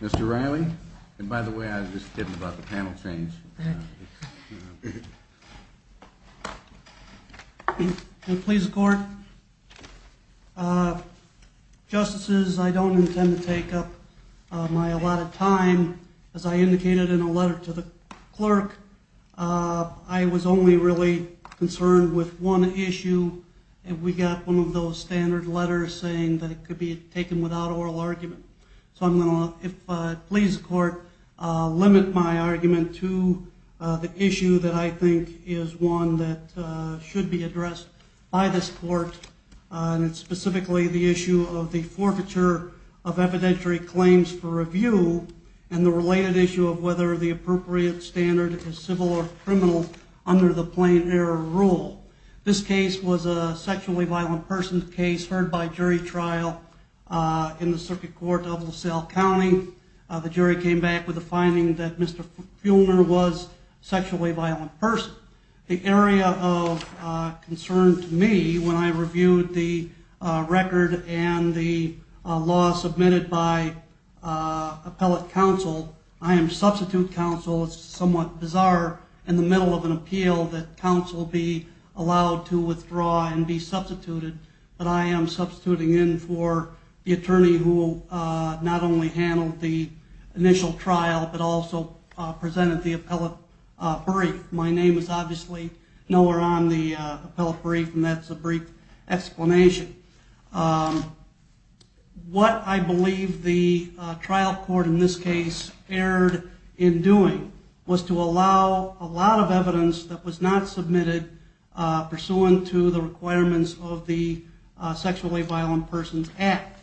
Mr. Riley, and by the way, I was just kidding about the panel change. And please court justices, I don't intend to take up my a lot of time, as I indicated in a letter to the clerk, I was only really concerned with one issue, and we got one of those standard letters saying that it could be taken without oral argument. So I'm going to, if please court, limit my argument to the issue that I think is one that should be addressed by this court, and it's specifically the issue of the forfeiture of evidentiary claims for review, and the related issue of whether the appropriate standard is civil or criminal under the plain error rule. This case was a sexually violent person case heard by jury trial in the circuit court of LaSalle County. The jury came back with a finding that Mr. Feulner was a sexually violent person. The area of concern to me when I reviewed the record and the law submitted by appellate counsel, I am substitute counsel, it's somewhat bizarre in the middle of an appeal that counsel be allowed to withdraw and be substituted, but I am substituting in for the attorney who not only handled the initial trial, but also presented the appellate brief. My name is obviously nowhere on the appellate brief, and that's a brief explanation. What I believe the trial court in this case erred in doing was to allow a lot of evidence that was not submitted pursuant to the requirements of the sexually violent persons act.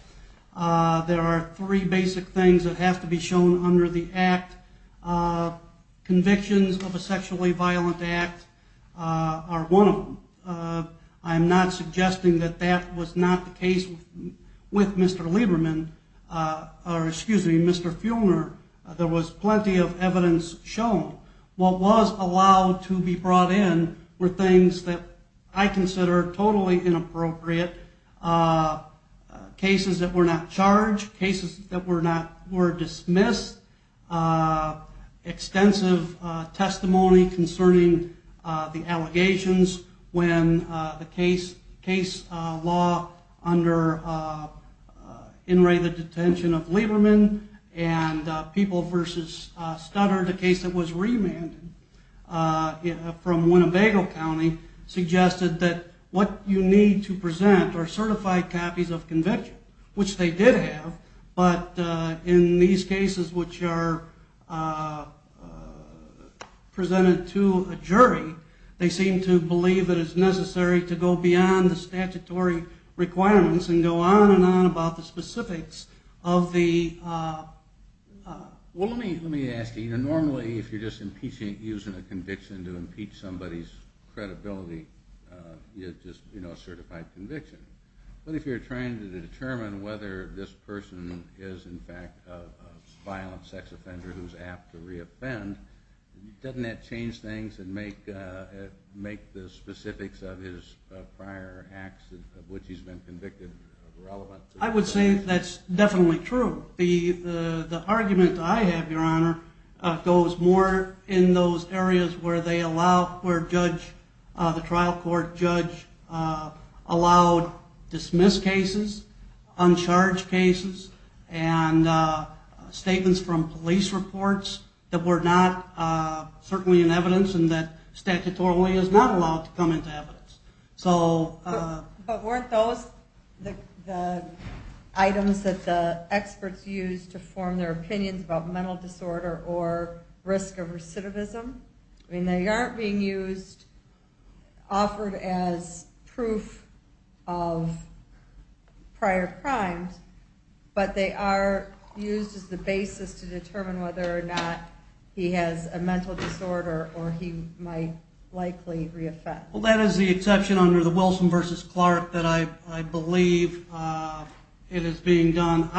There are three basic things that have to be shown under the act. Convictions of a sexually violent act are one of them. I'm not suggesting that that was not the case with Mr. Feulner. There was plenty of evidence shown. What was allowed to be brought in were things that I consider totally inappropriate. Cases that were not charged, cases that were dismissed, extensive testimony concerning the allegations when the case law under in rated detention of Lieberman and people versus Studdard, the case that was remanded from Winnebago County, suggested that what you need to present are certified copies of conviction, which they did have, but in these cases which are presented to a jury, they seem to believe it is necessary to go beyond the statutory requirements and go on and on about the specifics of the... Well, let me ask you. Normally if you're just using a conviction to impeach somebody's credibility, you have a certified conviction. But if you're trying to determine whether this person is in fact a violent sex offender who's apt to reoffend, doesn't that change things and make the specifics of his prior acts of which he's been convicted irrelevant? I would say that's definitely true. The argument I have, Your Honor, goes more in those areas where the trial court judge allowed dismissed cases, uncharged cases, and statements from police reports that were not certainly in evidence and that statutorily is not allowed to come into evidence. But weren't those the items that the experts used to form their opinions about mental disorder or risk of recidivism? I mean, they aren't being offered as proof of prior crimes, but they are used as the basis to determine whether or not he has a mental disorder or he might likely reoffend. The exception under the Wilson v. Clark that I believe it is being done,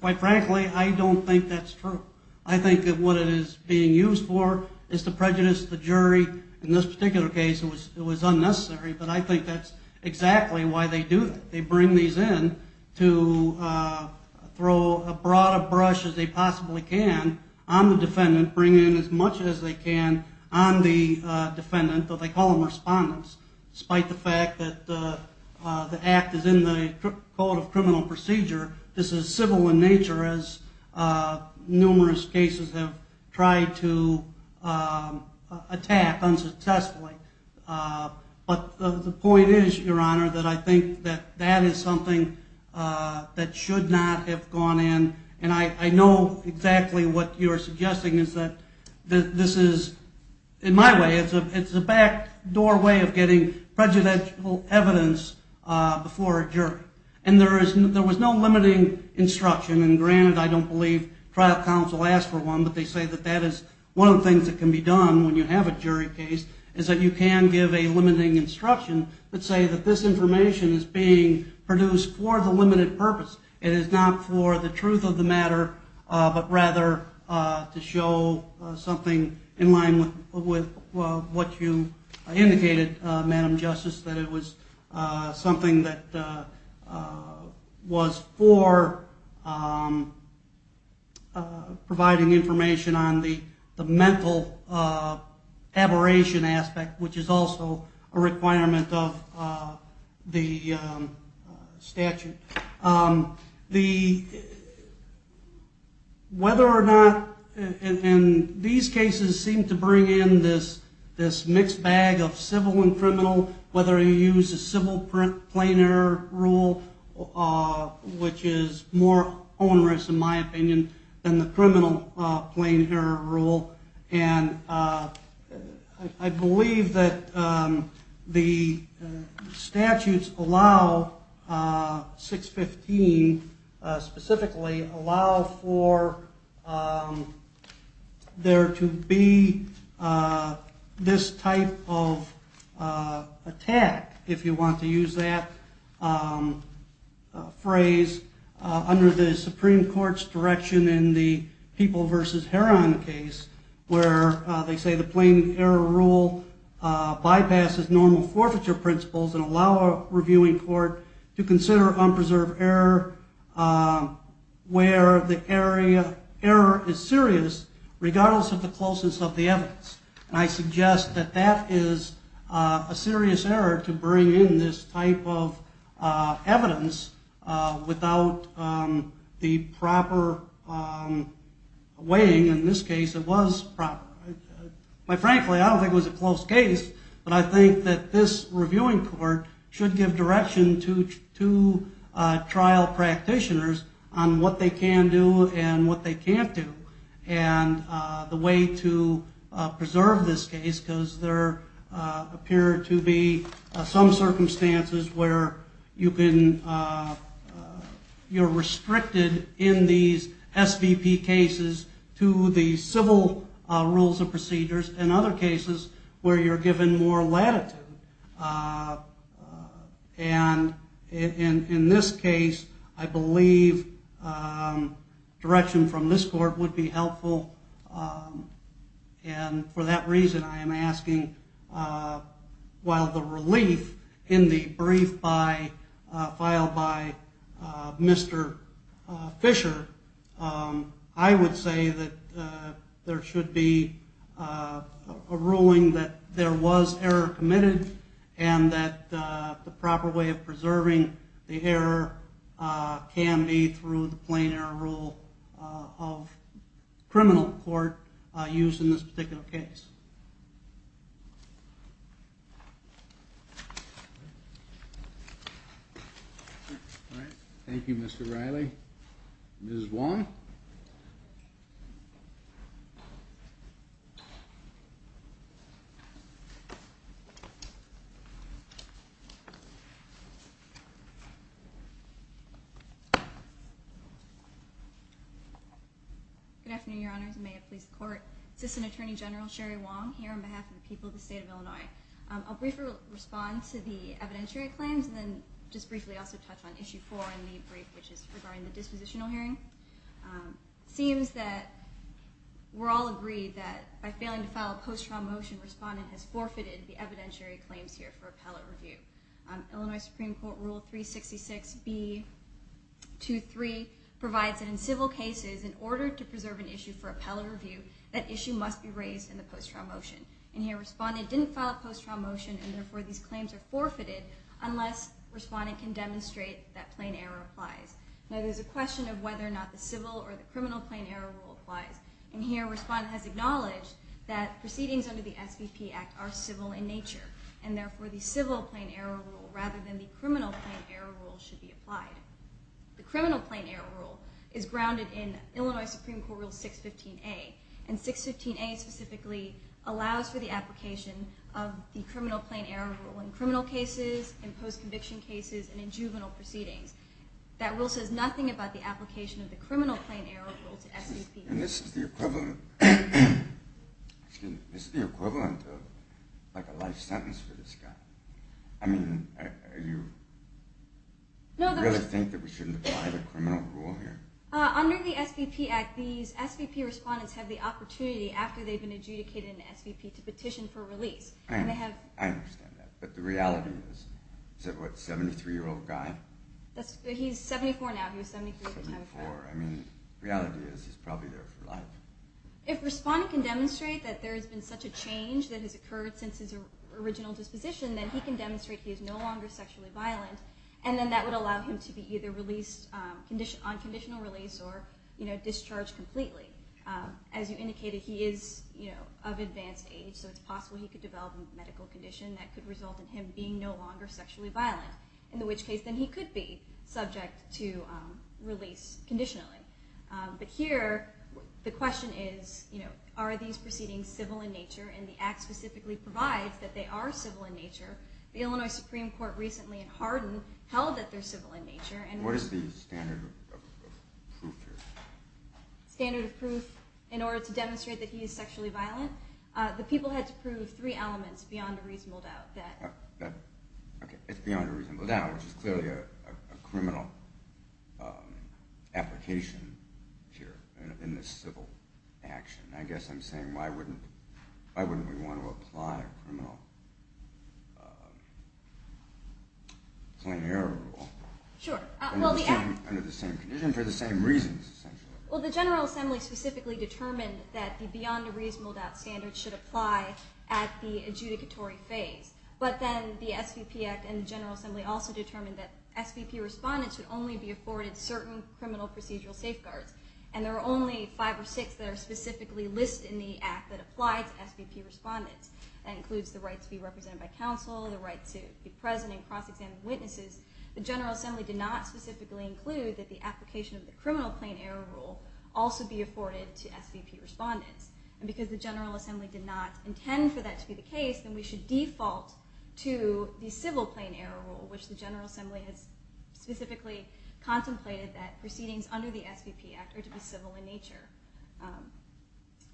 quite frankly, I don't think that's true. I think that what it is being used for is to prejudice the jury. In this particular case, it was unnecessary, but I think that's exactly why they do that. to throw as broad a brush as they possibly can on the defendant, bring in as much as they can on the defendant, though they call them respondents. Despite the fact that the act is in the Code of Criminal Procedure, this is civil in nature as numerous cases have tried to attack unsuccessfully. But the point is, Your Honor, that I think that that is something that should not have gone in. And I know exactly what you're suggesting is that this is, in my way, it's a backdoor way of getting prejudicial evidence before a jury. And there was no limiting instruction. And granted, I don't believe trial counsel asked for one, but they say that that is one of the things that can be done when you have a jury case is that you can give a limiting instruction that say that this information is being produced for the limited purpose. It is not for the truth of the matter, but rather to show something in line with what you indicated, Madam Justice, that it was something that was for providing information on the mental aberration aspect, which is also a requirement of the statute. Whether or not, and these cases seem to bring in this mixed bag of civil and criminal, whether you use the civil plain error rule, which is more onerous, in my opinion, than the criminal plain error rule. And I believe that the statutes allow, 615 specifically, allow for there to be this type of attack, if you want to use that phrase, under the Supreme Court's direction in the People v. Heron case. Where they say the plain error rule bypasses normal forfeiture principles and allow a reviewing court to consider unpreserved error where the error is serious, regardless of the closeness of the evidence. And I suggest that that is a serious error to bring in this type of evidence without the proper weighing. In this case, it was proper. Frankly, I don't think it was a close case. But I think that this reviewing court should give direction to trial practitioners on what they can do and what they can't do. And the way to preserve this case, because there appear to be some circumstances where you're restricted in these SVP cases to the civil rules and procedures. And other cases where you're given more latitude. And in this case, I believe direction from this court would be helpful. And for that reason, I am asking, while the relief in the brief filed by Mr. Fisher, I would say that there should be more latitude. A ruling that there was error committed and that the proper way of preserving the error can be through the plain error rule of criminal court used in this particular case. All right. Thank you, Mr. Riley. Ms. Wong? Good afternoon, Your Honors, and may it please the court. Assistant Attorney General Sherry Wong here on behalf of the people of the state of Illinois. I'll briefly respond to the evidentiary claims and then just briefly also touch on Issue 4 in the brief, which is regarding the dispositional hearing. It seems that we're all agreed that by failing to file a post-trial motion, respondent has forfeited the evidentiary claims here for appellate review. Illinois Supreme Court Rule 366B23 provides that in civil cases, in order to preserve an issue for appellate review, that issue must be raised in the post-trial motion. And here respondent didn't file a post-trial motion and therefore these claims are forfeited unless respondent can demonstrate that plain error applies. Now there's a question of whether or not the civil or the criminal plain error rule applies. And here respondent has acknowledged that proceedings under the SVP Act are civil in nature and therefore the civil plain error rule rather than the criminal plain error rule should be applied. The criminal plain error rule is grounded in Illinois Supreme Court Rule 615A. And 615A specifically allows for the application of the criminal plain error rule in criminal cases, in post-conviction cases, and in juvenile proceedings. That rule says nothing about the application of the criminal plain error rule to SVPs. And this is the equivalent of a life sentence for this guy. I mean, you really think that we shouldn't apply the criminal rule here? Under the SVP Act, SVP respondents have the opportunity after they've been adjudicated an SVP to petition for release. I understand that. But the reality is, is that what, a 73-year-old guy? He's 74 now. He was 73 at the time of trial. I mean, reality is he's probably there for life. If respondent can demonstrate that there has been such a change that has occurred since his original disposition, then he can demonstrate he is no longer sexually violent. And then that would allow him to be either released on conditional release or discharged completely. As you indicated, he is of advanced age, so it's possible he could develop a medical condition that could result in him being no longer sexually violent. In which case, then he could be subject to release conditionally. But here, the question is, are these proceedings civil in nature? And the Act specifically provides that they are civil in nature. The Illinois Supreme Court recently in Hardin held that they're civil in nature. What is the standard of proof here? Standard of proof in order to demonstrate that he is sexually violent? The people had to prove three elements beyond a reasonable doubt. It's beyond a reasonable doubt, which is clearly a criminal application here in this civil action. I guess I'm saying, why wouldn't we want to apply a criminal plain error rule? Sure. Under the same condition for the same reasons, essentially. Well, the General Assembly specifically determined that the beyond a reasonable doubt standard should apply at the adjudicatory phase. But then the SVP Act and the General Assembly also determined that SVP respondents should only be afforded certain criminal procedural safeguards. And there are only five or six that are specifically listed in the Act that apply to SVP respondents. That includes the right to be represented by counsel, the right to be present in cross-examining witnesses. The General Assembly did not specifically include that the application of the criminal plain error rule also be afforded to SVP respondents. And because the General Assembly did not intend for that to be the case, then we should default to the civil plain error rule, which the General Assembly has specifically contemplated that proceedings under the SVP Act are to be civil in nature.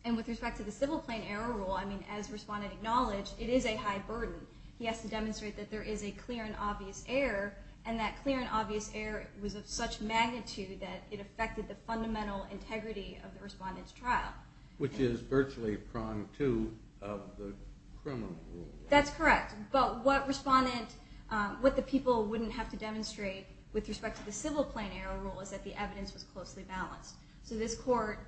And with respect to the civil plain error rule, as Respondent acknowledged, it is a high burden. He has to demonstrate that there is a clear and obvious error. And that clear and obvious error was of such magnitude that it affected the fundamental integrity of the respondent's trial. Which is virtually prong two of the criminal rule. That's correct. But what the people wouldn't have to demonstrate with respect to the civil plain error rule is that the evidence was closely balanced. So this court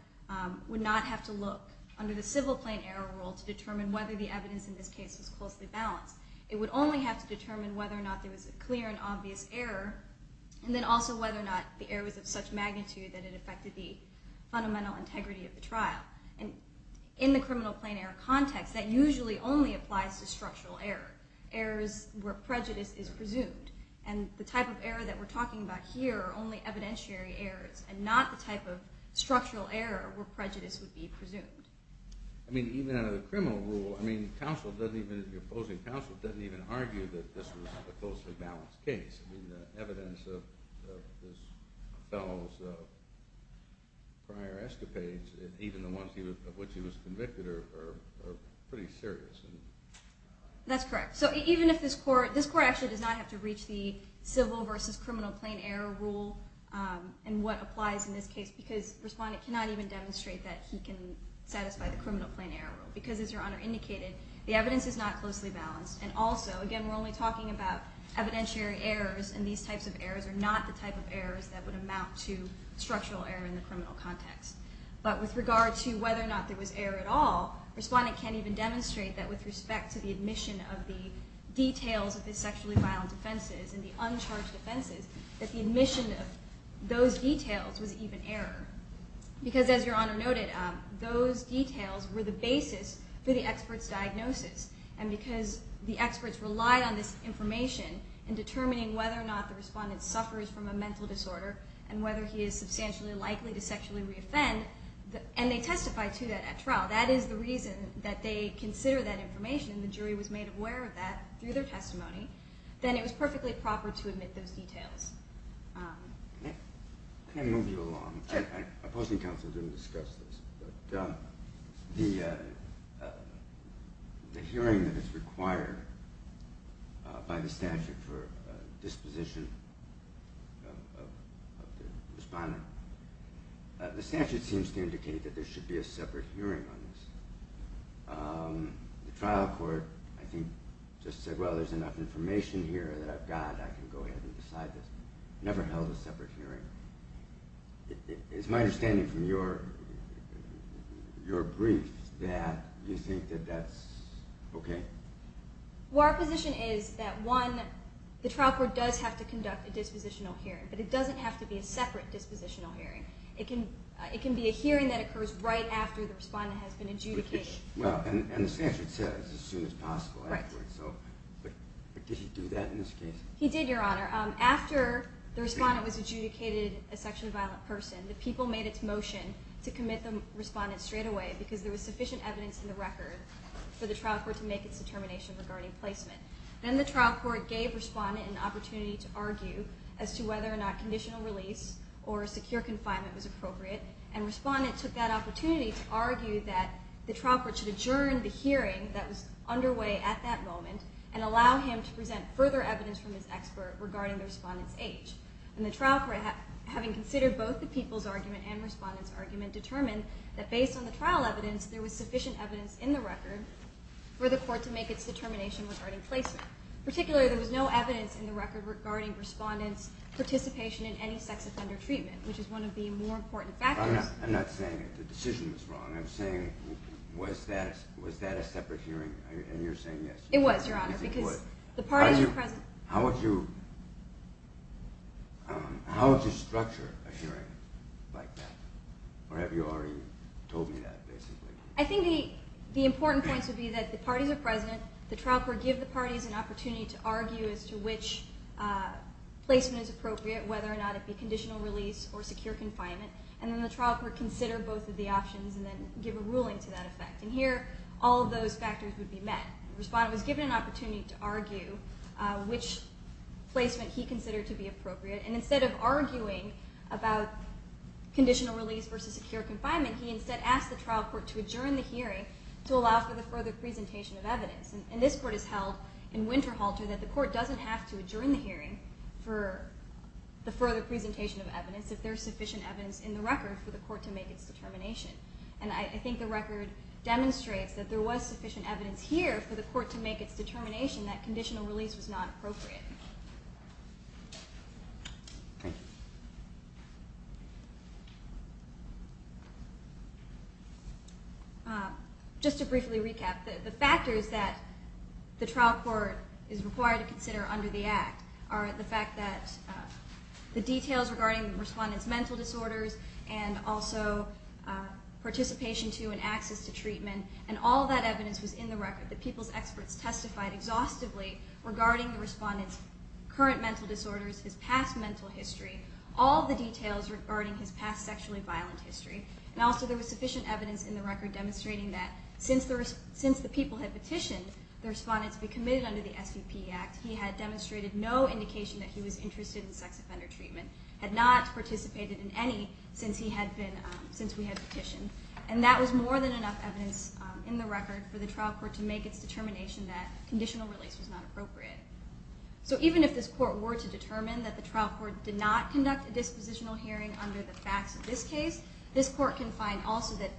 would not have to look under the civil plain error rule to determine whether the evidence in this case was closely balanced. It would only have to determine whether or not there was a clear and obvious error, and then also whether or not the error was of such magnitude that it affected the fundamental integrity of the trial. And in the criminal plain error context, that usually only applies to structural error. Errors where prejudice is presumed. And the type of error that we're talking about here are only evidentiary errors, and not the type of structural error where prejudice would be presumed. I mean, even under the criminal rule, the opposing counsel doesn't even argue that this was a closely balanced case. I mean, the evidence of this fellow's prior escapades, even the ones of which he was convicted, are pretty serious. That's correct. So this court actually does not have to reach the civil versus criminal plain error rule and what applies in this case, because Respondent cannot even demonstrate that he can satisfy the criminal plain error rule. Because as Your Honor indicated, the evidence is not closely balanced. And also, again, we're only talking about evidentiary errors, and these types of errors are not the type of errors that would amount to structural error in the criminal context. But with regard to whether or not there was error at all, Respondent can't even demonstrate that with respect to the admission of the details of his sexually violent offenses and the uncharged offenses, that the admission of those details was even error. Because as Your Honor noted, those details were the basis for the expert's diagnosis. And because the experts relied on this information in determining whether or not the Respondent suffers from a mental disorder and whether he is substantially likely to sexually re-offend, and they testified to that at trial. That is the reason that they consider that information. The jury was made aware of that through their testimony. Then it was perfectly proper to admit those details. Can I move you along? I'm opposing counsel to discuss this. But the hearing that is required by the statute for disposition of the Respondent, the statute seems to indicate that there should be a separate hearing on this. The trial court, I think, just said, well, there's enough information here that I've got. I can go ahead and decide this. Never held a separate hearing. It's my understanding from your brief that you think that that's okay. Well, our position is that, one, the trial court does have to conduct a dispositional hearing, but it doesn't have to be a separate dispositional hearing. It can be a hearing that occurs right after the Respondent has been adjudicated. Well, and the statute says as soon as possible afterwards. Right. But did he do that in this case? He did, Your Honor. After the Respondent was adjudicated a sexually violent person, the people made its motion to commit the Respondent straightaway because there was sufficient evidence in the record for the trial court to make its determination regarding placement. Then the trial court gave Respondent an opportunity to argue as to whether or not conditional release or secure confinement was appropriate, and Respondent took that opportunity to argue that the trial court should adjourn the hearing that was underway at that moment and allow him to present further evidence from his expert regarding the Respondent's age. And the trial court, having considered both the people's argument and Respondent's argument, determined that based on the trial evidence there was sufficient evidence in the record for the court to make its determination regarding placement. Particularly, there was no evidence in the record regarding Respondent's participation in any sex offender treatment, which is one of the more important factors. I'm not saying the decision was wrong. I'm saying was that a separate hearing, and you're saying yes. It was, Your Honor, because the parties were present. How would you structure a hearing like that? Or have you already told me that, basically? I think the important points would be that the parties are present, the trial court give the parties an opportunity to argue as to which placement is appropriate, whether or not it be conditional release or secure confinement, and then the trial court consider both of the options and then give a ruling to that effect. And here, all of those factors would be met. Respondent was given an opportunity to argue which placement he considered to be appropriate, and instead of arguing about conditional release versus secure confinement, he instead asked the trial court to adjourn the hearing to allow for the further presentation of evidence. And this court has held in Winterhalter that the court doesn't have to adjourn the hearing for the further presentation of evidence if there's sufficient evidence in the record for the court to make its determination. And I think the record demonstrates that there was sufficient evidence here for the court to make its determination that conditional release was not appropriate. Just to briefly recap, the factors that the trial court is required to consider under the Act are the fact that the details regarding the respondent's mental disorders and also participation to and access to treatment, and all that evidence was in the record. The people's experts testified exhaustively regarding the respondent's current mental disorders, his past mental history, all the details regarding his past sexually violent history. And also there was sufficient evidence in the record demonstrating that since the people had petitioned, the respondent to be committed under the SVP Act, he had demonstrated no indication that he was interested in sex offender treatment, had not participated in any since we had petitioned. And that was more than enough evidence in the record for the trial court to make its determination that conditional release was not appropriate. So even if this court were to determine that the trial court did not conduct a dispositional hearing under the facts of this case, this court can find also that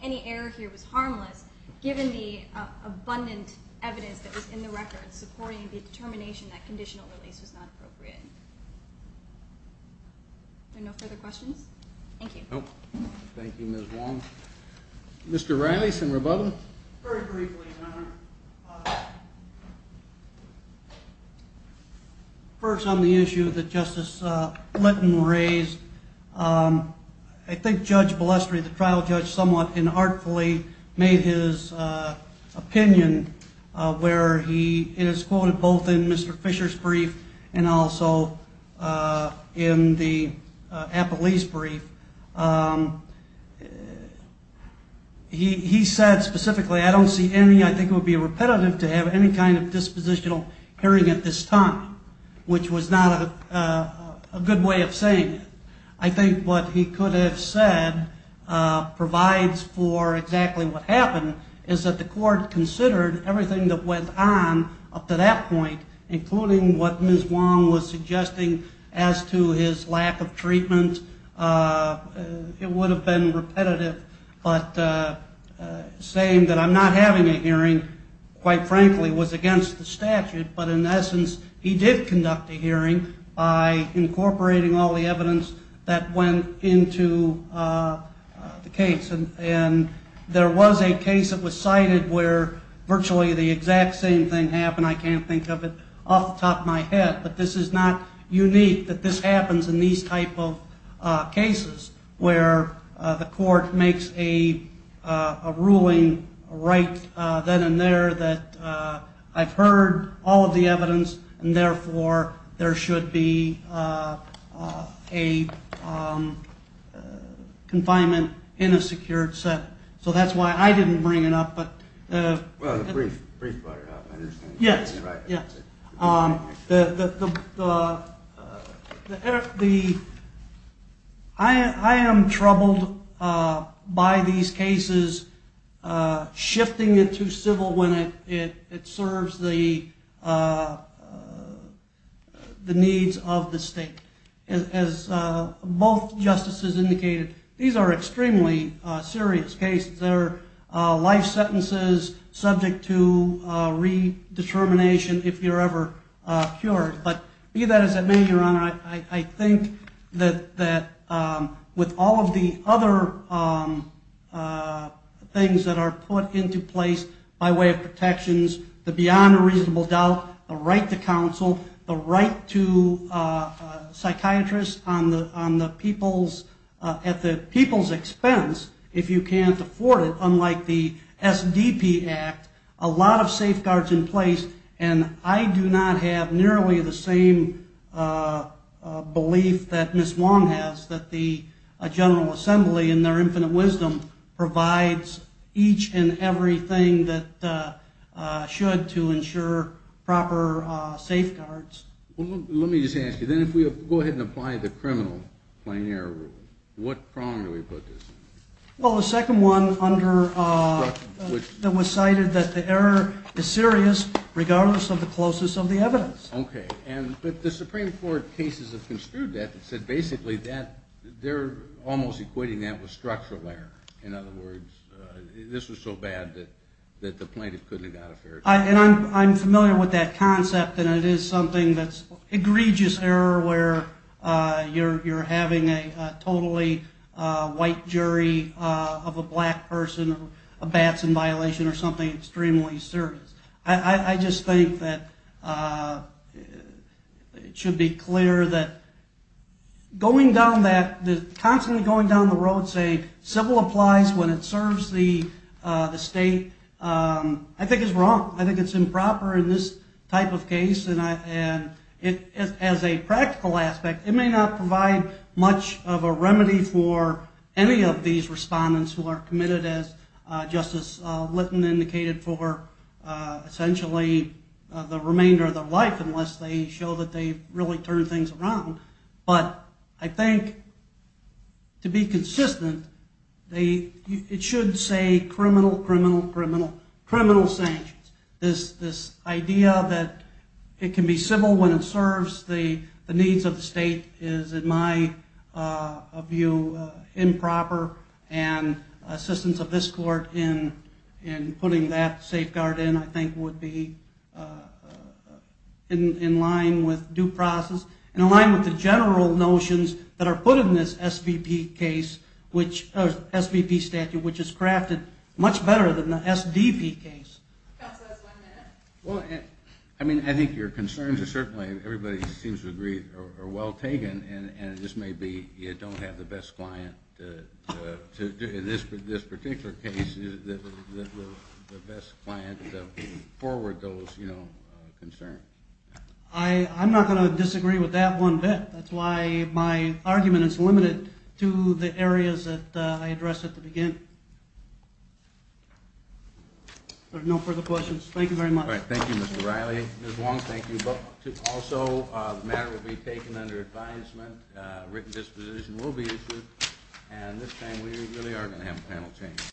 any error here was harmless given the abundant evidence that was in the record supporting the determination that conditional release was not appropriate. Are there no further questions? Thank you. Thank you, Ms. Wong. Mr. Riley, some rebuttals? Very briefly, Your Honor. First on the issue that Justice Litton raised, I think Judge Balestrier, the trial judge, somewhat inartfully made his opinion where he is quoted both in Mr. Fisher's brief and also in the Appellee's brief. He said specifically, I don't see any, I think it would be repetitive to have any kind of dispositional hearing at this time, which was not a good way of saying it. I think what he could have said provides for exactly what happened, is that the court considered everything that went on up to that point, including what Ms. Wong was suggesting as to his lack of treatment. It would have been repetitive, but saying that I'm not having a hearing, quite frankly, was against the statute, but in essence he did conduct a hearing by incorporating all the evidence that went into the case. And there was a case that was cited where virtually the exact same thing happened, I can't think of it off the top of my head, but this is not unique that this happens in these type of cases where the court makes a ruling right then and there that I've heard all of the evidence and therefore there should be a confinement in a secured setting. So that's why I didn't bring it up. Well, the brief brought it up. Yes. I am troubled by these cases shifting it to civil when it serves the needs of the state. As both justices indicated, these are extremely serious cases. They're life sentences subject to redetermination if you're ever cured. But be that as it may, Your Honor, I think that with all of the other things that are put into place by way of protections, the beyond a reasonable doubt, the right to counsel, the right to psychiatrists at the people's expense if you can't afford it, unlike the SDP Act, a lot of safeguards in place. And I do not have nearly the same belief that Ms. Wong has, that the General Assembly, in their infinite wisdom, provides each and everything that should to ensure proper safeguards. Let me just ask you, then, if we go ahead and apply the criminal plain error rule, what prong do we put this in? Well, the second one that was cited, that the error is serious regardless of the closeness of the evidence. Okay. But the Supreme Court cases have construed that and said basically that they're almost equating that with structural error. In other words, this was so bad that the plaintiff couldn't have got a fair trial. And I'm familiar with that concept, and it is something that's egregious error where you're having a totally white jury of a black person, a bat's in violation, or something extremely serious. I just think that it should be clear that going down that, constantly going down the road saying civil applies when it serves the state, I think is wrong. I think it's improper in this type of case. And as a practical aspect, it may not provide much of a remedy for any of these respondents who are committed, as Justice Litton indicated, for essentially the remainder of their life, unless they show that they've really turned things around. But I think to be consistent, it should say criminal, criminal, criminal, criminal sanctions. This idea that it can be civil when it serves the needs of the state is, in my view, improper. And assistance of this court in putting that safeguard in, I think, would be in line with due process. In line with the general notions that are put in this SVP case, or SVP statute, which is crafted much better than the SDP case. I mean, I think your concerns are certainly, everybody seems to agree, are well taken, and it just may be you don't have the best client to, in this particular case, the best client to forward those concerns. I'm not going to disagree with that one bit. That's why my argument is limited to the areas that I addressed at the beginning. There are no further questions. Thank you very much. All right. Thank you, Mr. Riley. Ms. Wong, thank you. Also, the matter will be taken under advisement. A written disposition will be issued. And this time, we really are going to have a panel change.